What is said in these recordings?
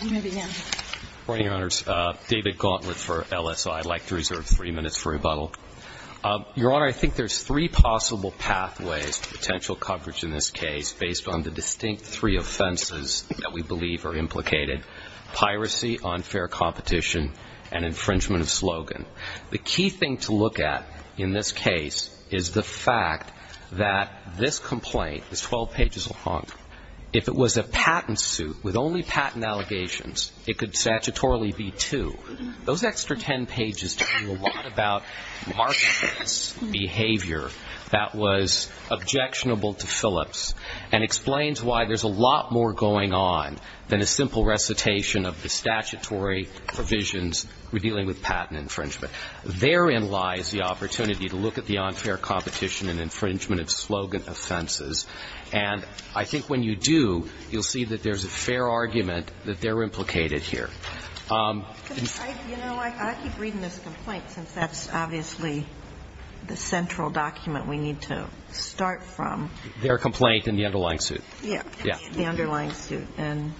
David Gauntlet for LSI. I'd like to reserve three minutes for rebuttal. Your Honor, I think there's three possible pathways to potential coverage in this case based on the distinct three offenses that we believe are implicated, piracy, unfair competition, and infringement of slogan. The key thing to look at in this case is the fact that this complaint is 12 pages long. If it was a patent suit with only patent allegations, it could statutorily be two. Those extra 10 pages tell you a lot about Mark's behavior that was objectionable to Phillips and explains why there's a lot more going on than a simple recitation of the statutory provisions when dealing with patent infringement. Therein lies the opportunity to look at the unfair competition and infringement of slogan offenses. And I think when you do, you'll see that there's a fair argument that they're implicated here. Ginsburg. You know, I keep reading this complaint, since that's obviously the central document we need to start from. They're a complaint in the underlying suit. Yeah. The underlying suit. And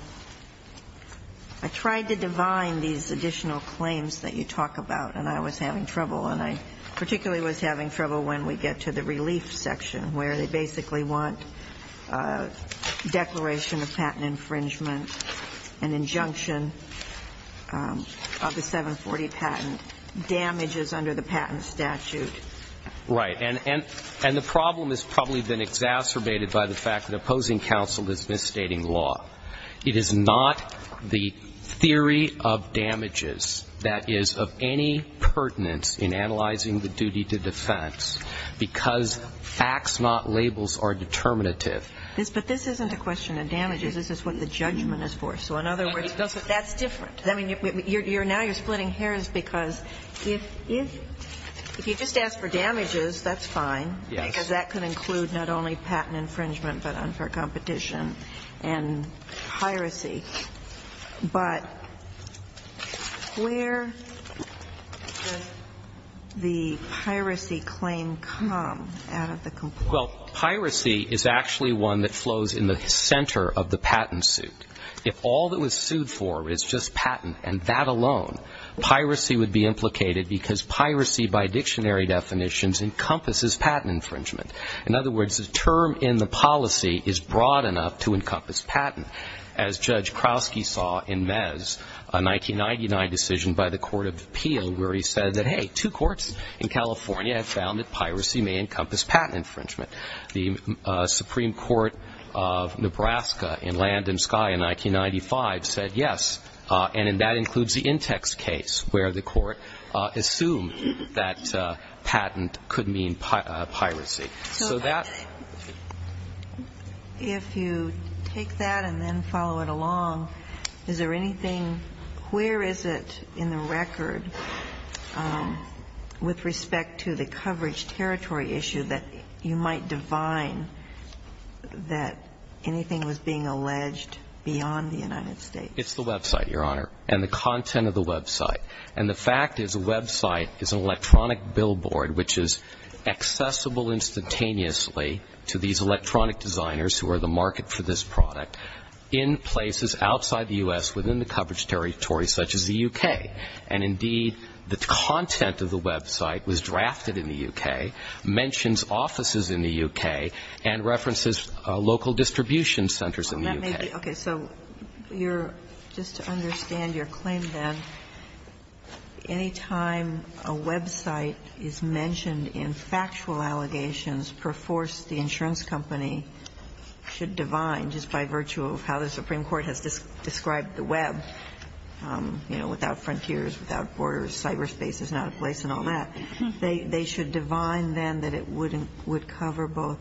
I tried to divine these additional claims that you talk about, and I was having trouble when we get to the relief section, where they basically want a declaration of patent infringement, an injunction of the 740 patent, damages under the patent statute. Right. And the problem has probably been exacerbated by the fact that opposing counsel is misstating law. It is not the theory of damages that is of any pertinence in analyzing the duty to defense, because facts not labels are determinative. But this isn't a question of damages. This is what the judgment is for. So in other words, that's different. I mean, now you're splitting hairs because if you just ask for damages, that's fine. Yes. Because that could include not only patent infringement but unfair competition and piracy, but where does the piracy claim come out of the complaint? Well, piracy is actually one that flows in the center of the patent suit. If all that was sued for is just patent and that alone, piracy would be implicated because piracy by dictionary definitions encompasses patent infringement. In other words, the term in the policy is broad enough to encompass patent. As Judge Krowski saw in Mez, a 1999 decision by the Court of Appeal where he said that, hey, two courts in California have found that piracy may encompass patent infringement. The Supreme Court of Nebraska in Land and Sky in 1995 said yes, and that includes the Intex case where the Court assumed that patent could mean piracy. So that ---- If you take that and then follow it along, is there anything ñ where is it in the record with respect to the coverage territory issue that you might define that anything was being alleged beyond the United States? It's the website, Your Honor, and the content of the website. And the fact is the website is an electronic billboard which is accessible instantaneously to these electronic designers who are the market for this product in places outside the U.S. within the coverage territory such as the U.K. And indeed, the content of the website was drafted in the U.K., mentions offices in the U.K., and references local distribution centers in the U.K. Okay. So your ñ just to understand your claim, then, any time a website is mentioned in factual allegations per force the insurance company should divine just by virtue of how the Supreme Court has described the web, you know, without frontiers, without borders, cyberspace is not a place and all that, they should divine then that it would cover both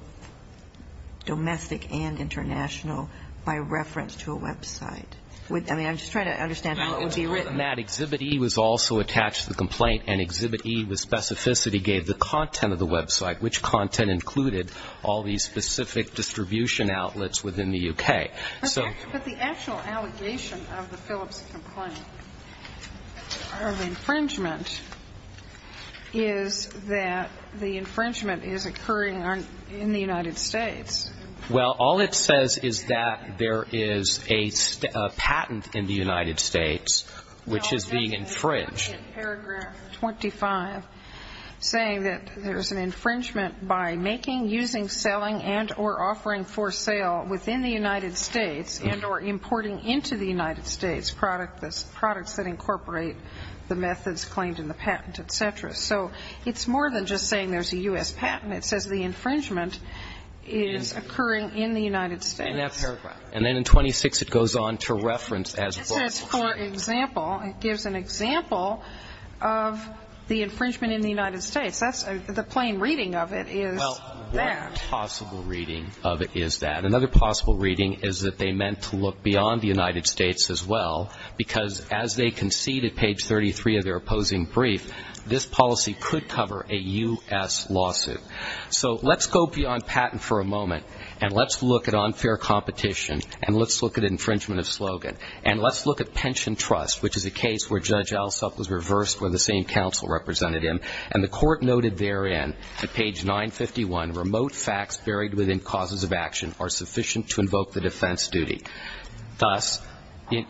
domestic and international by reference to a website. I mean, I'm just trying to understand how it would be written. Well, in that, Exhibit E was also attached to the complaint, and Exhibit E with specificity gave the content of the website, which content included all these specific distribution outlets within the U.K. But the actual allegation of the Phillips complaint of infringement is that the infringement is occurring in the United States. Well, all it says is that there is a patent in the United States, which is being infringed. Well, that's included in paragraph 25, saying that there's an infringement by making, using, selling, and or offering for sale within the United States and or importing into the United States products that incorporate the methods claimed in the patent, et cetera. So it's more than just saying there's a U.S. patent. It says the infringement is occurring in the United States. And then in 26, it goes on to reference as a variable. It says, for example, it gives an example of the infringement in the United States. The plain reading of it is that. Well, what possible reading of it is that? Another possible reading is that they meant to look beyond the United States as well, because as they concede at page 33 of their opposing brief, this policy could cover a U.S. lawsuit. So let's go beyond patent for a moment, and let's look at unfair competition, and let's look at infringement of slogan, and let's look at pension trust, which is a case where Judge Alsop was reversed when the same counsel represented him. And the Court noted therein at page 951, remote facts buried within causes of action are sufficient to invoke the defense duty. Thus,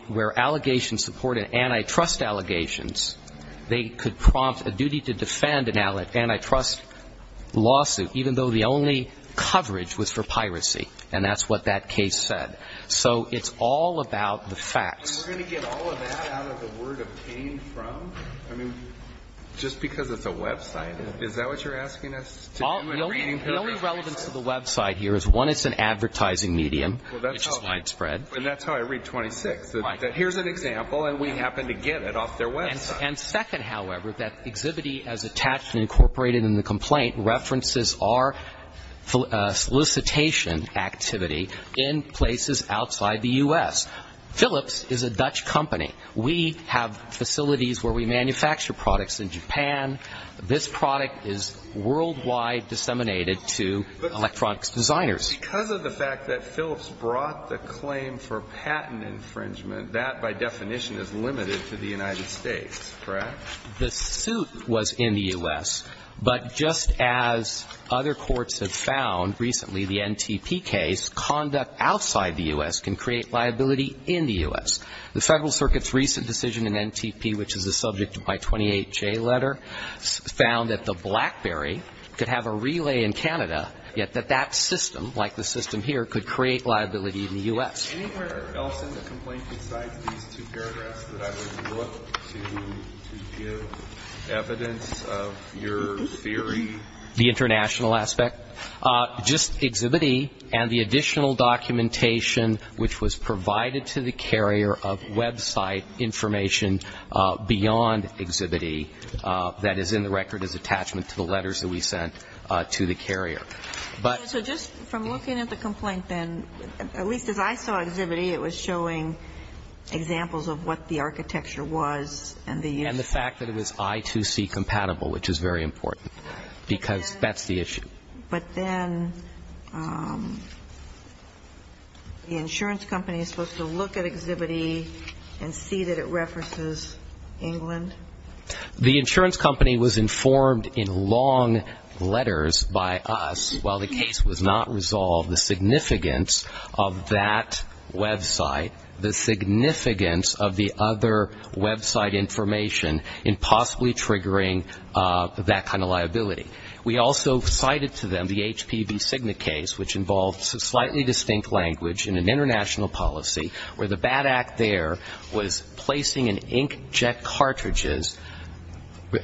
where allegations supported antitrust allegations, they could prompt a duty to defend an antitrust lawsuit, even though the only coverage was for piracy. And that's what that case said. So it's all about the facts. We're going to get all of that out of the word obtained from? I mean, just because it's a website, is that what you're asking us to do? The only relevance to the website here is, one, it's an advertising medium, which is widespread. And that's how I read 26. Here's an example, and we happen to get it off their website. And second, however, that exhibit E as attached and incorporated in the complaint references our solicitation activity in places outside the U.S. Philips is a Dutch company. We have facilities where we manufacture products in Japan. This product is worldwide disseminated to electronics designers. But because of the fact that Philips brought the claim for patent infringement, that by definition is limited to the United States, correct? The suit was in the U.S., but just as other courts have found recently, the NTP case, conduct outside the U.S. can create liability in the U.S. The Federal Circuit's recent decision in NTP, which is the subject of my 28-J letter, found that the BlackBerry could have a relay in Canada, yet that that system, like the system here, could create liability in the U.S. Anywhere else in the complaint besides these two paragraphs that I would look to give evidence of your theory? The international aspect? Just Exhibit E and the additional documentation which was provided to the carrier of website information beyond Exhibit E that is in the record as attachment to the letters that we sent to the carrier. So just from looking at the complaint then, at least as I saw Exhibit E, it was showing examples of what the architecture was and the use of it. And the fact that it was I2C compatible, which is very important, because that's the issue. But then the insurance company is supposed to look at Exhibit E and see that it references England? The insurance company was informed in long letters by us, while the case was not resolved, the significance of that website, the significance of the other website information in possibly triggering that kind of liability. We also cited to them the HPB Signet case, which involved slightly distinct language in an international policy where the bad act there was placing in inkjet cartridges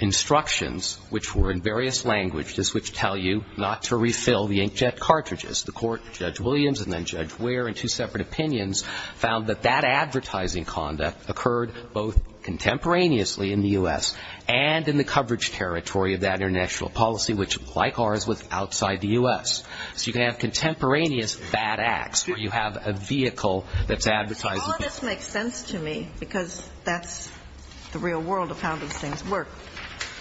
instructions, which were in various languages, which tell you not to refill the inkjet cartridges. The court, Judge Williams and then Judge Ware in two separate opinions, found that that advertising conduct occurred both contemporaneously in the U.S. and in the coverage territory of that international policy, which, like ours, was outside the U.S. So you can have contemporaneous bad acts where you have a vehicle that's advertising. All of this makes sense to me, because that's the real world of how these things work.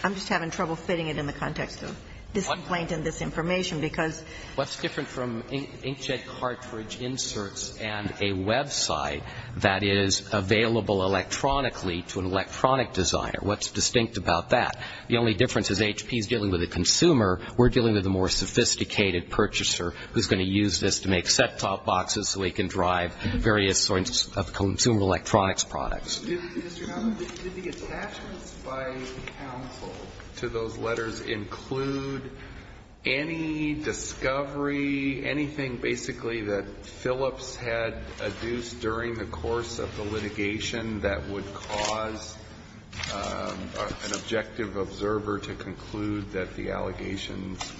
I'm just having trouble fitting it in the context of this complaint and this information, because What's different from inkjet cartridge inserts and a website that is available electronically to an electronic designer? What's distinct about that? The only difference is HP is dealing with a consumer. We're dealing with a more sophisticated purchaser who's going to use this to make set-top boxes so he can drive various sorts of consumer electronics products. Did the attachments by counsel to those letters include any discovery, anything, basically, that Phillips had adduced during the course of the litigation that would cause an objective observer to conclude that the allegations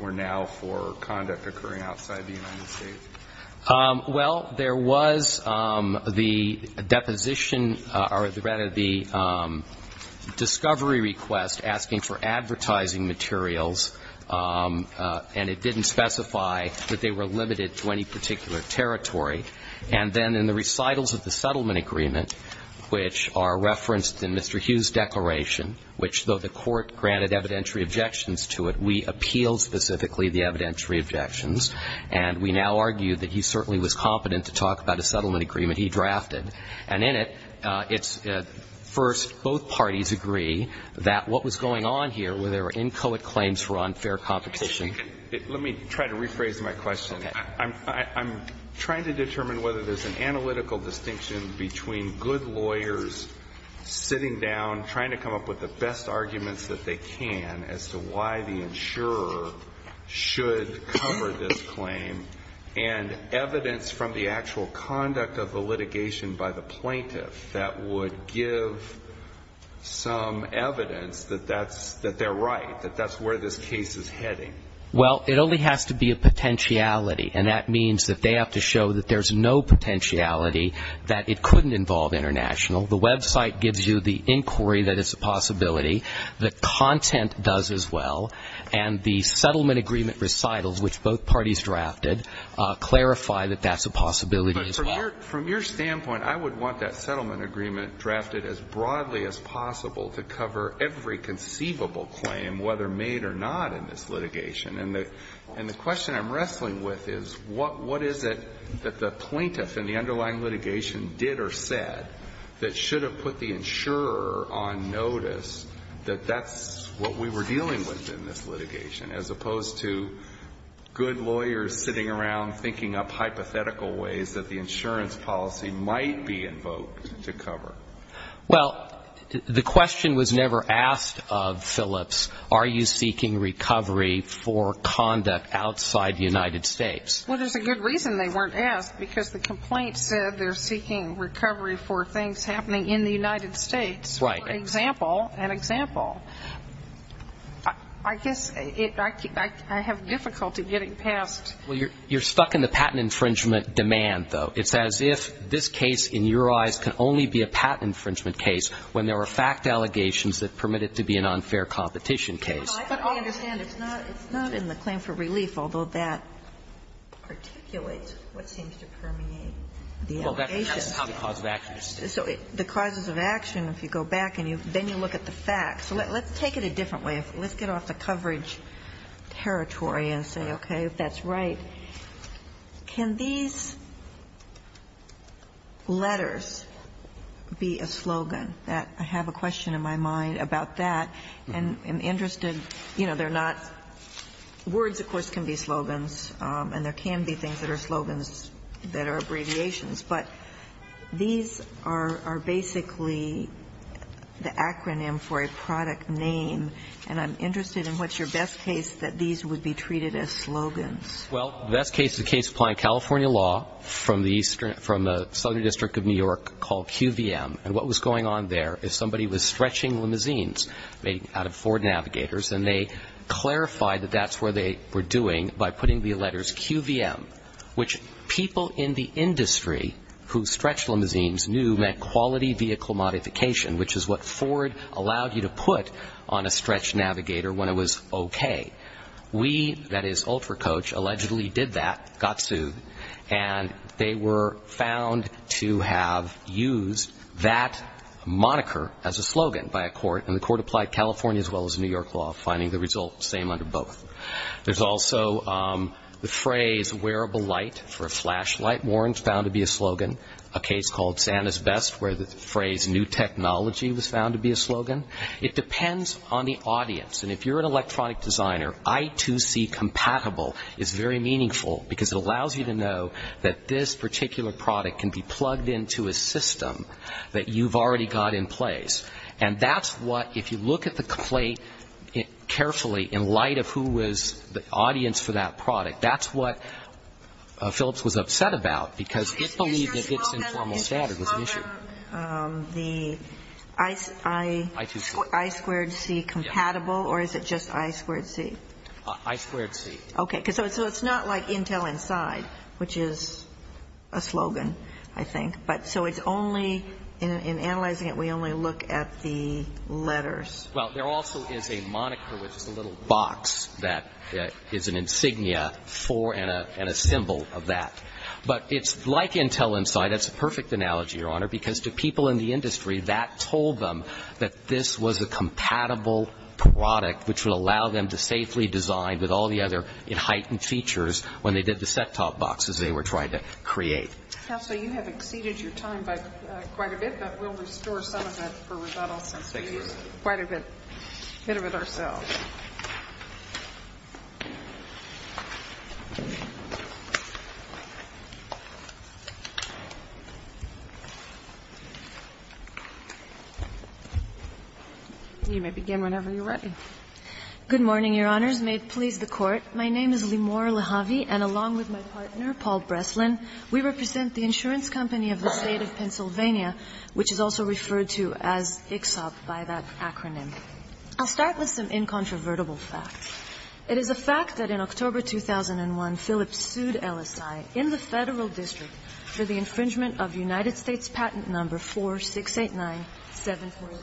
were now for conduct occurring outside the United States? Well, there was the deposition or, rather, the discovery request asking for advertising materials, and it didn't specify that they were limited to any particular territory. And then in the recitals of the settlement agreement, which are referenced in Mr. Hughes' declaration, which, though the court granted evidentiary objections to it, we appealed specifically the evidentiary objections. And we now argue that he certainly was competent to talk about a settlement agreement he drafted. And in it, it's first, both parties agree that what was going on here were there were inchoate claims for unfair competition. Let me try to rephrase my question. Okay. I'm trying to determine whether there's an analytical distinction between good lawyers sitting down trying to come up with the best arguments that they can as to why the insurer should cover this claim and evidence from the actual conduct of the litigation by the plaintiff that would give some evidence that that's they're right, that that's where this case is heading. Well, it only has to be a potentiality, and that means that they have to show that there's no potentiality, that it couldn't involve international. The website gives you the inquiry that it's a possibility. The content does as well. And the settlement agreement recitals, which both parties drafted, clarify that that's a possibility as well. But from your standpoint, I would want that settlement agreement drafted as broadly as possible to cover every conceivable claim, whether made or not in this litigation. And the question I'm wrestling with is what is it that the plaintiff in the underlying litigation did or said that should have put the insurer on notice that that's what we were dealing with in this litigation, as opposed to good lawyers sitting around thinking up hypothetical ways that the insurance policy might be invoked to cover? Well, the question was never asked of Phillips. Are you seeking recovery for conduct outside the United States? Well, there's a good reason they weren't asked, because the complaint said they're seeking recovery for things happening in the United States. Right. For example, an example. I guess I have difficulty getting past. Well, you're stuck in the patent infringement demand, though. It's as if this case, in your eyes, can only be a patent infringement case when there are fact allegations that permit it to be an unfair competition case. No, I think I understand. It's not in the claim for relief, although that articulates what seems to permeate the allegation. Well, that's how the cause of action is. So the causes of action, if you go back and then you look at the facts. Let's take it a different way. Let's get off the coverage territory and say, okay, that's right. Can these letters be a slogan? I have a question in my mind about that. And I'm interested, you know, they're not words, of course, can be slogans, and there can be things that are slogans that are abbreviations. But these are basically the acronym for a product name. And I'm interested in what's your best case that these would be treated as slogans. Well, the best case is a case applying California law from the southern district of New York called QVM. And what was going on there is somebody was stretching limousines out of Ford Navigators, and they clarified that that's where they were doing by putting the letters QVM, which people in the industry who stretch limousines knew meant quality vehicle modification, which is what Ford allowed you to put on a stretch Navigator when it was okay. We, that is, Ultra Coach, allegedly did that, got sued, and they were found to have used that moniker as a slogan by a court, and the court applied California as well as New York law, finding the result same under both. There's also the phrase wearable light for a flashlight warrant found to be a slogan, a case called Santa's Best where the phrase new technology was found to be a slogan. It depends on the audience. And if you're an electronic designer, I2C compatible is very meaningful because it allows you to know that this particular product can be plugged into a system that you've already got in place. And that's what, if you look at the complaint carefully in light of who was the audience for that product, that's what Phillips was upset about because it believed that its informal standard was an issue. Is your slogan I2C compatible or is it just I2C? I2C. Okay. So it's not like Intel Inside, which is a slogan, I think. But so it's only, in analyzing it, we only look at the letters. Well, there also is a moniker with just a little box that is an insignia for and a symbol of that. But it's like Intel Inside. That's a perfect analogy, Your Honor, because to people in the industry, that told them that this was a compatible product which would allow them to safely design with all the other heightened features when they did the set-top boxes they were trying to create. Counsel, you have exceeded your time by quite a bit, but we'll restore some of that for rebuttal since we used quite a bit of it ourselves. You may begin whenever you're ready. Good morning, Your Honors. May it please the Court. My name is Limor Lahavi, and along with my partner, Paul Breslin, we represent the insurance company of the State of Pennsylvania, which is also referred to as ICSOP by that acronym. I'll start with some incontrovertible facts. It is a fact that in October 2001, Phillips sued LSI in the Federal District for the infringement of United States Patent No. 4689-740,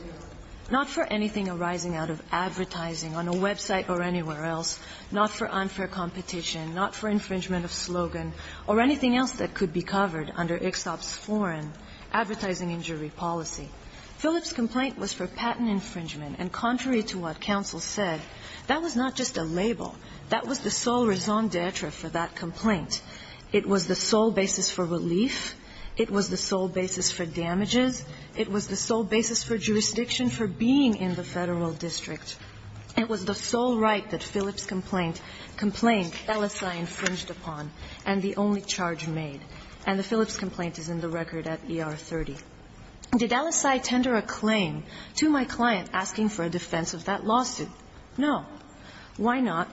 not for anything arising out of advertising on a website or anywhere else, not for unfair competition, not for infringement of slogan, or anything else that could be covered under ICSOP's foreign advertising injury policy. Phillips' complaint was for patent infringement, and contrary to what counsel said, that was not just a label. That was the sole raison d'etre for that complaint. It was the sole basis for relief. It was the sole basis for damages. It was the sole basis for jurisdiction for being in the Federal District. It was the sole right that Phillips' complaint, complaint LSI infringed upon, and the only charge made. And the Phillips complaint is in the record at ER 30. Did LSI tender a claim to my client asking for a defense of that lawsuit? No. Why not?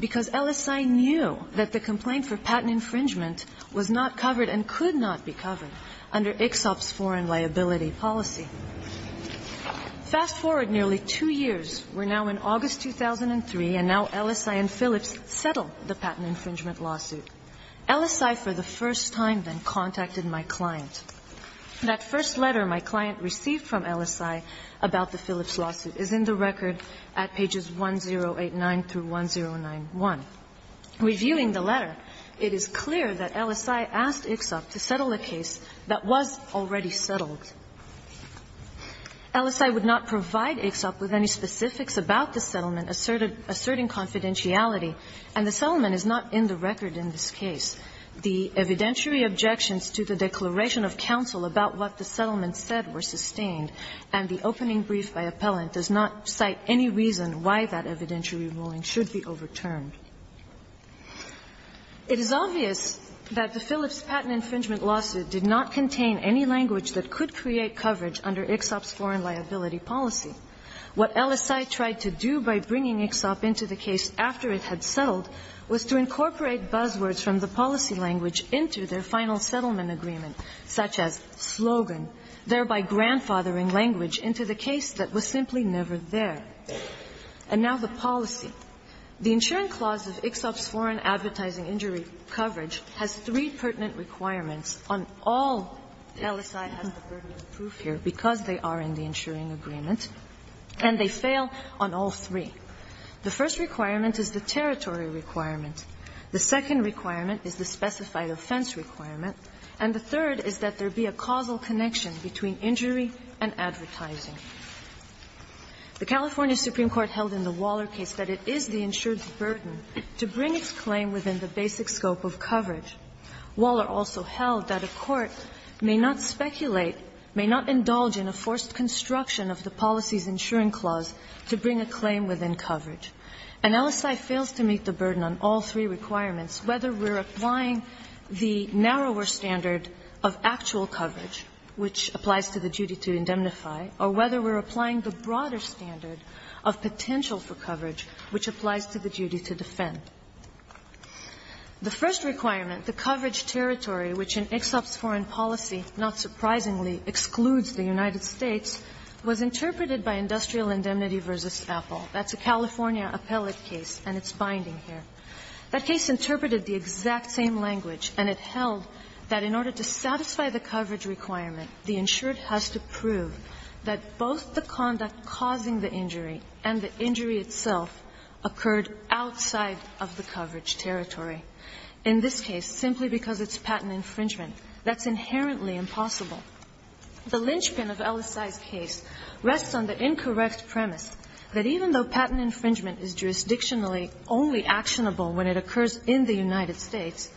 Because LSI knew that the complaint for patent infringement was not covered and could not be covered under ICSOP's foreign liability policy. Fast forward nearly two years. We're now in August 2003, and now LSI and Phillips settle the patent infringement lawsuit. LSI for the first time then contacted my client. That first letter my client received from LSI about the Phillips lawsuit is in the record at pages 1089 through 1091. Reviewing the letter, it is clear that LSI asked ICSOP to settle a case that was already settled. LSI would not provide ICSOP with any specifics about the settlement asserting confidentiality, and the settlement is not in the record in this case. The evidentiary objections to the declaration of counsel about what the settlement said were sustained, and the opening brief by appellant does not cite any reason why that evidentiary ruling should be overturned. It is obvious that the Phillips patent infringement lawsuit did not contain any language that could create coverage under ICSOP's foreign liability policy. What LSI tried to do by bringing ICSOP into the case after it had settled was to incorporate buzzwords from the policy language into their final settlement agreement, such as And now the policy. The insuring clause of ICSOP's foreign advertising injury coverage has three pertinent requirements on all LSI has the pertinent proof here because they are in the insuring agreement, and they fail on all three. The first requirement is the territory requirement. The second requirement is the specified offense requirement. And the third is that there be a causal connection between injury and advertising. The California Supreme Court held in the Waller case that it is the insured's burden to bring its claim within the basic scope of coverage. Waller also held that a court may not speculate, may not indulge in a forced construction of the policy's insuring clause to bring a claim within coverage. And LSI fails to meet the burden on all three requirements, whether we're applying the narrower standard of actual coverage, which applies to the duty to indemnify, or whether we're applying the broader standard of potential for coverage, which applies to the duty to defend. The first requirement, the coverage territory, which in ICSOP's foreign policy, not surprisingly, excludes the United States, was interpreted by Industrial Indemnity v. Apple. That's a California appellate case, and it's binding here. That case interpreted the exact same language, and it held that in order to satisfy the coverage requirement, the insured has to prove that both the conduct causing the injury and the injury itself occurred outside of the coverage territory. In this case, simply because it's patent infringement, that's inherently impossible. The linchpin of LSI's case rests on the incorrect premise that even though patent infringement is jurisdictionally only actionable when it occurs in the United States,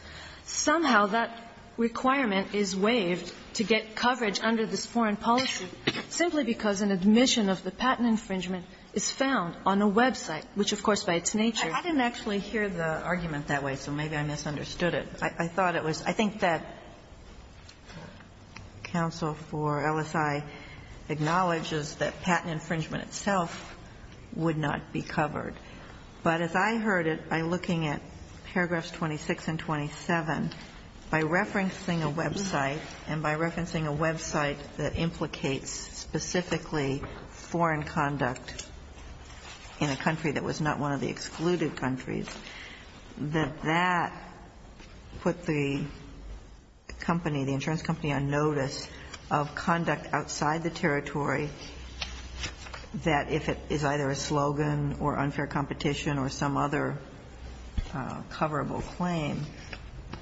somehow that requirement is waived to get coverage under this foreign policy simply because an admission of the patent infringement is found on a website, which, of course, by its nature. I didn't actually hear the argument that way, so maybe I misunderstood it. I thought it was – I think that counsel for LSI acknowledges that patent infringement itself would not be covered. But as I heard it, by looking at paragraphs 26 and 27, by referencing a website and by referencing a website that implicates specifically foreign conduct in a country that was not one of the excluded countries, that that put the company, the insurance company, on notice of conduct outside the territory that if it is either a slogan or unfair competition or some other coverable claim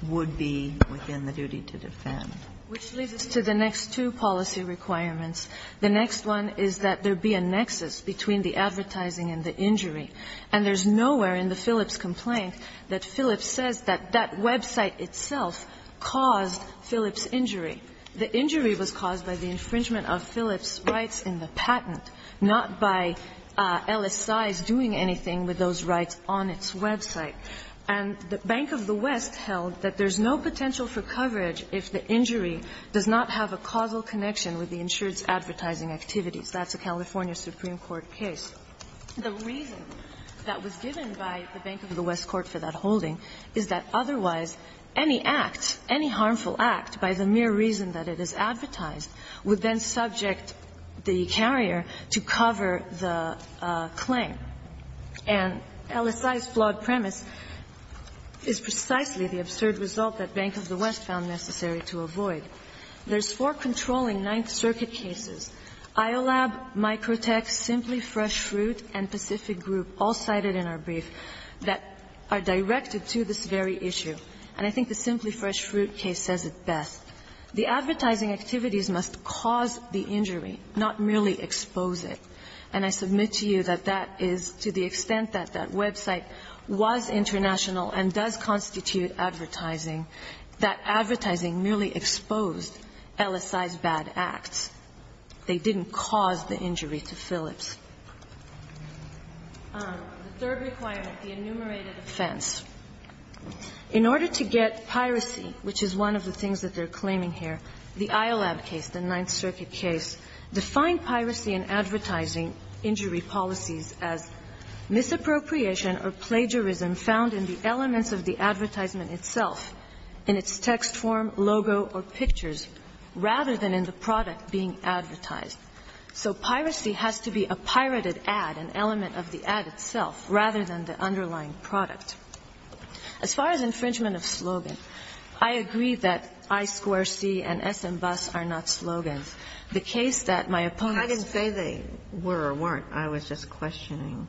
would be within the duty to defend. Which leads us to the next two policy requirements. The next one is that there be a nexus between the advertising and the injury. And there's nowhere in the Phillips complaint that Phillips says that that website itself caused Phillips's injury. The injury was caused by the infringement of Phillips's rights in the patent, not by LSI's doing anything with those rights on its website. And the Bank of the West held that there's no potential for coverage if the injury does not have a causal connection with the insurance advertising activities. That's a California Supreme Court case. The reason that was given by the Bank of the West court for that holding is that otherwise any act, any harmful act, by the mere reason that it is advertised would then subject the carrier to cover the claim. And LSI's flawed premise is precisely the absurd result that Bank of the West found necessary to avoid. There's four controlling Ninth Circuit cases, IOLAB, Microtech, Simply Fresh Fruit, and Pacific Group, all cited in our brief, that are directed to this very issue. The advertising activities must cause the injury, not merely expose it. And I submit to you that that is, to the extent that that website was international and does constitute advertising, that advertising merely exposed LSI's bad acts. They didn't cause the injury to Phillips. The third requirement, the enumerated offense. In order to get piracy, which is one of the things that they're claiming here, the IOLAB case, the Ninth Circuit case, defined piracy and advertising injury policies as misappropriation or plagiarism found in the elements of the advertisement itself, in its text form, logo, or pictures, rather than in the product being advertised. So piracy has to be a pirated ad, an element of the ad itself, rather than the underlying product. As far as infringement of slogan, I agree that I-square-C and S-and-Bus are not slogans. The case that my opponent's ---- Kagan, I didn't say they were or weren't. I was just questioning.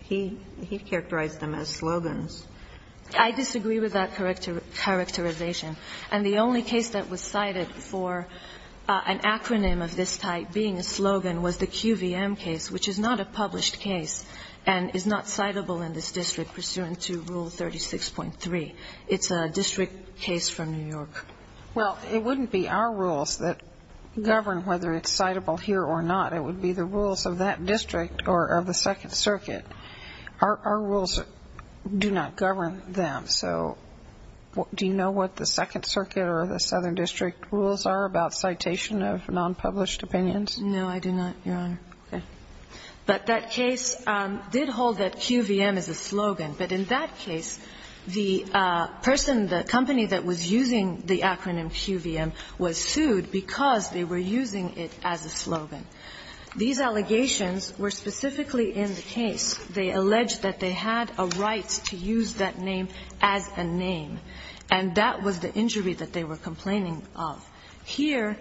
He characterized them as slogans. I disagree with that characterization. And the only case that was cited for an acronym of this type being a slogan was the rule 36.3. It's a district case from New York. Well, it wouldn't be our rules that govern whether it's citable here or not. It would be the rules of that district or of the Second Circuit. Our rules do not govern them. So do you know what the Second Circuit or the Southern District rules are about citation of nonpublished opinions? No, I do not, Your Honor. Okay. But that case did hold that QVM is a slogan. But in that case, the person, the company that was using the acronym QVM was sued because they were using it as a slogan. These allegations were specifically in the case. They alleged that they had a right to use that name as a name, and that was the injury that they were complaining of. Here,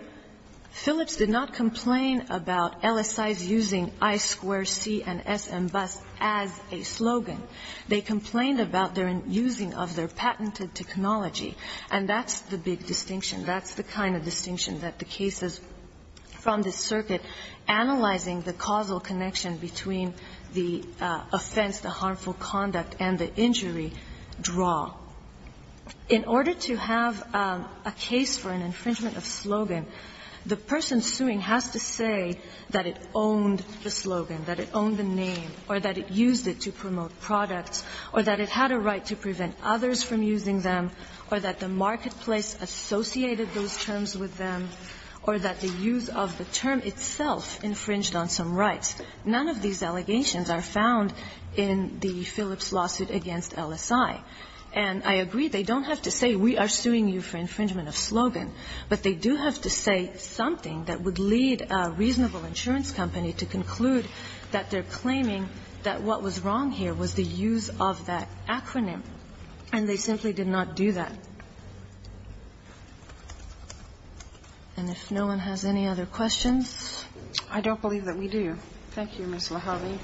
Phillips did not complain about LSIs using I-square-C and SMBus as a slogan. They complained about their using of their patented technology. And that's the big distinction. That's the kind of distinction that the cases from the circuit analyzing the causal connection between the offense, the harmful conduct, and the injury draw. In order to have a case for an infringement of slogan, the person suing has to say that it owned the slogan, that it owned the name, or that it used it to promote products, or that it had a right to prevent others from using them, or that the marketplace associated those terms with them, or that the use of the term itself infringed on some rights. None of these allegations are found in the Phillips lawsuit against LSI. And I agree, they don't have to say, we are suing you for infringement of slogan. But they do have to say something that would lead a reasonable insurance company to conclude that they're claiming that what was wrong here was the use of that acronym, and they simply did not do that. And if no one has any other questions? I don't believe that we do. Thank you, Ms. Lahavy.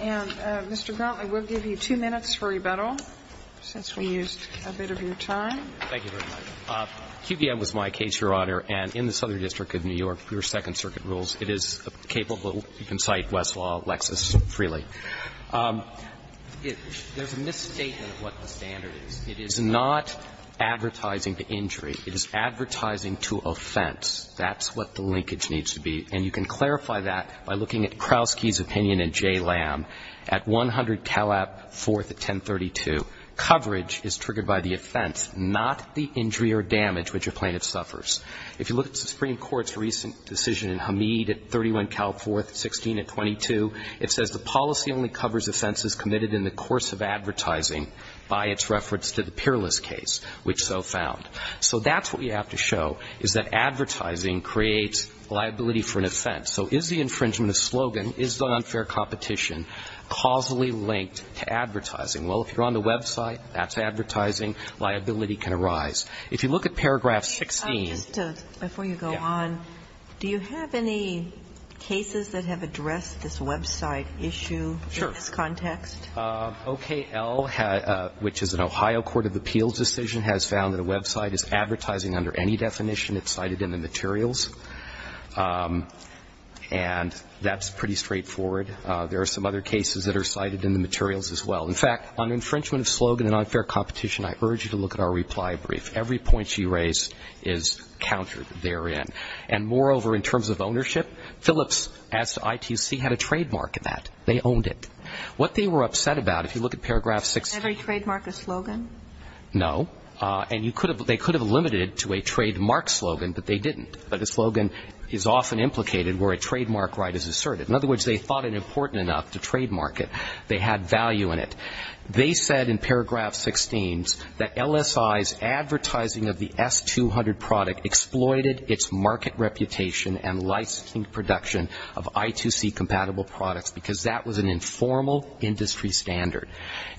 And, Mr. Gronkley, we'll give you two minutes for rebuttal, since we used a bit of your time. Thank you very much. QVM was my case, Your Honor, and in the Southern District of New York, we were second circuit rules. It is capable, you can cite Westlaw, Lexis freely. There's a misstatement of what the standard is. It is not advertising to injury. It is advertising to offense. That's what the linkage needs to be. And you can clarify that by looking at Krausky's opinion in J. Lamb at 100 Calab 4th at 1032. Coverage is triggered by the offense, not the injury or damage which a plaintiff suffers. If you look at the Supreme Court's recent decision in Hamid at 31 Calab 4th, 16 at 22, it says the policy only covers offenses committed in the course of advertising by its reference to the Peerless case, which so found. So that's what you have to show, is that advertising creates liability for an offense. So is the infringement of slogan, is the unfair competition causally linked to advertising? Well, if you're on the website, that's advertising. Liability can arise. If you look at paragraph 16. Before you go on, do you have any cases that have addressed this website issue in this context? OKL, which is an Ohio Court of Appeals decision, has found that a website is advertising under any definition that's cited in the materials. And that's pretty straightforward. There are some other cases that are cited in the materials as well. In fact, on infringement of slogan and unfair competition, I urge you to look at our reply brief. Every point she raised is countered therein. And moreover, in terms of ownership, Phillips, as to ITC, had a trademark in that. They owned it. What they were upset about, if you look at paragraph 16. Did they trademark a slogan? No. And they could have limited it to a trademark slogan, but they didn't. But a slogan is often implicated where a trademark right is asserted. In other words, they thought it important enough to trademark it. They had value in it. They said in paragraph 16 that LSI's advertising of the S-200 product exploited its market standard.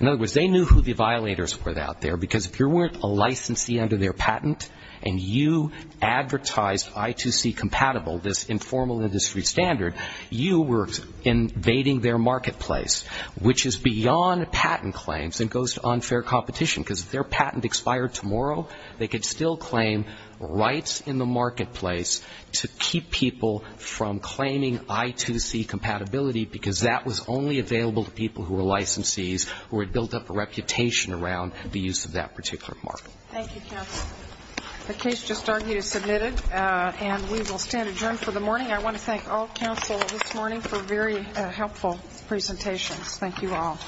In other words, they knew who the violators were out there. Because if you weren't a licensee under their patent, and you advertised I2C compatible, this informal industry standard, you were invading their marketplace, which is beyond patent claims and goes to unfair competition. Because if their patent expired tomorrow, they could still claim rights in the marketplace to keep people from claiming I2C compatibility, because that was only available to people who were licensees, who had built up a reputation around the use of that particular mark. Thank you, counsel. The case just argued is submitted, and we will stand adjourned for the morning. I want to thank all counsel this morning for very helpful presentations. Thank you all.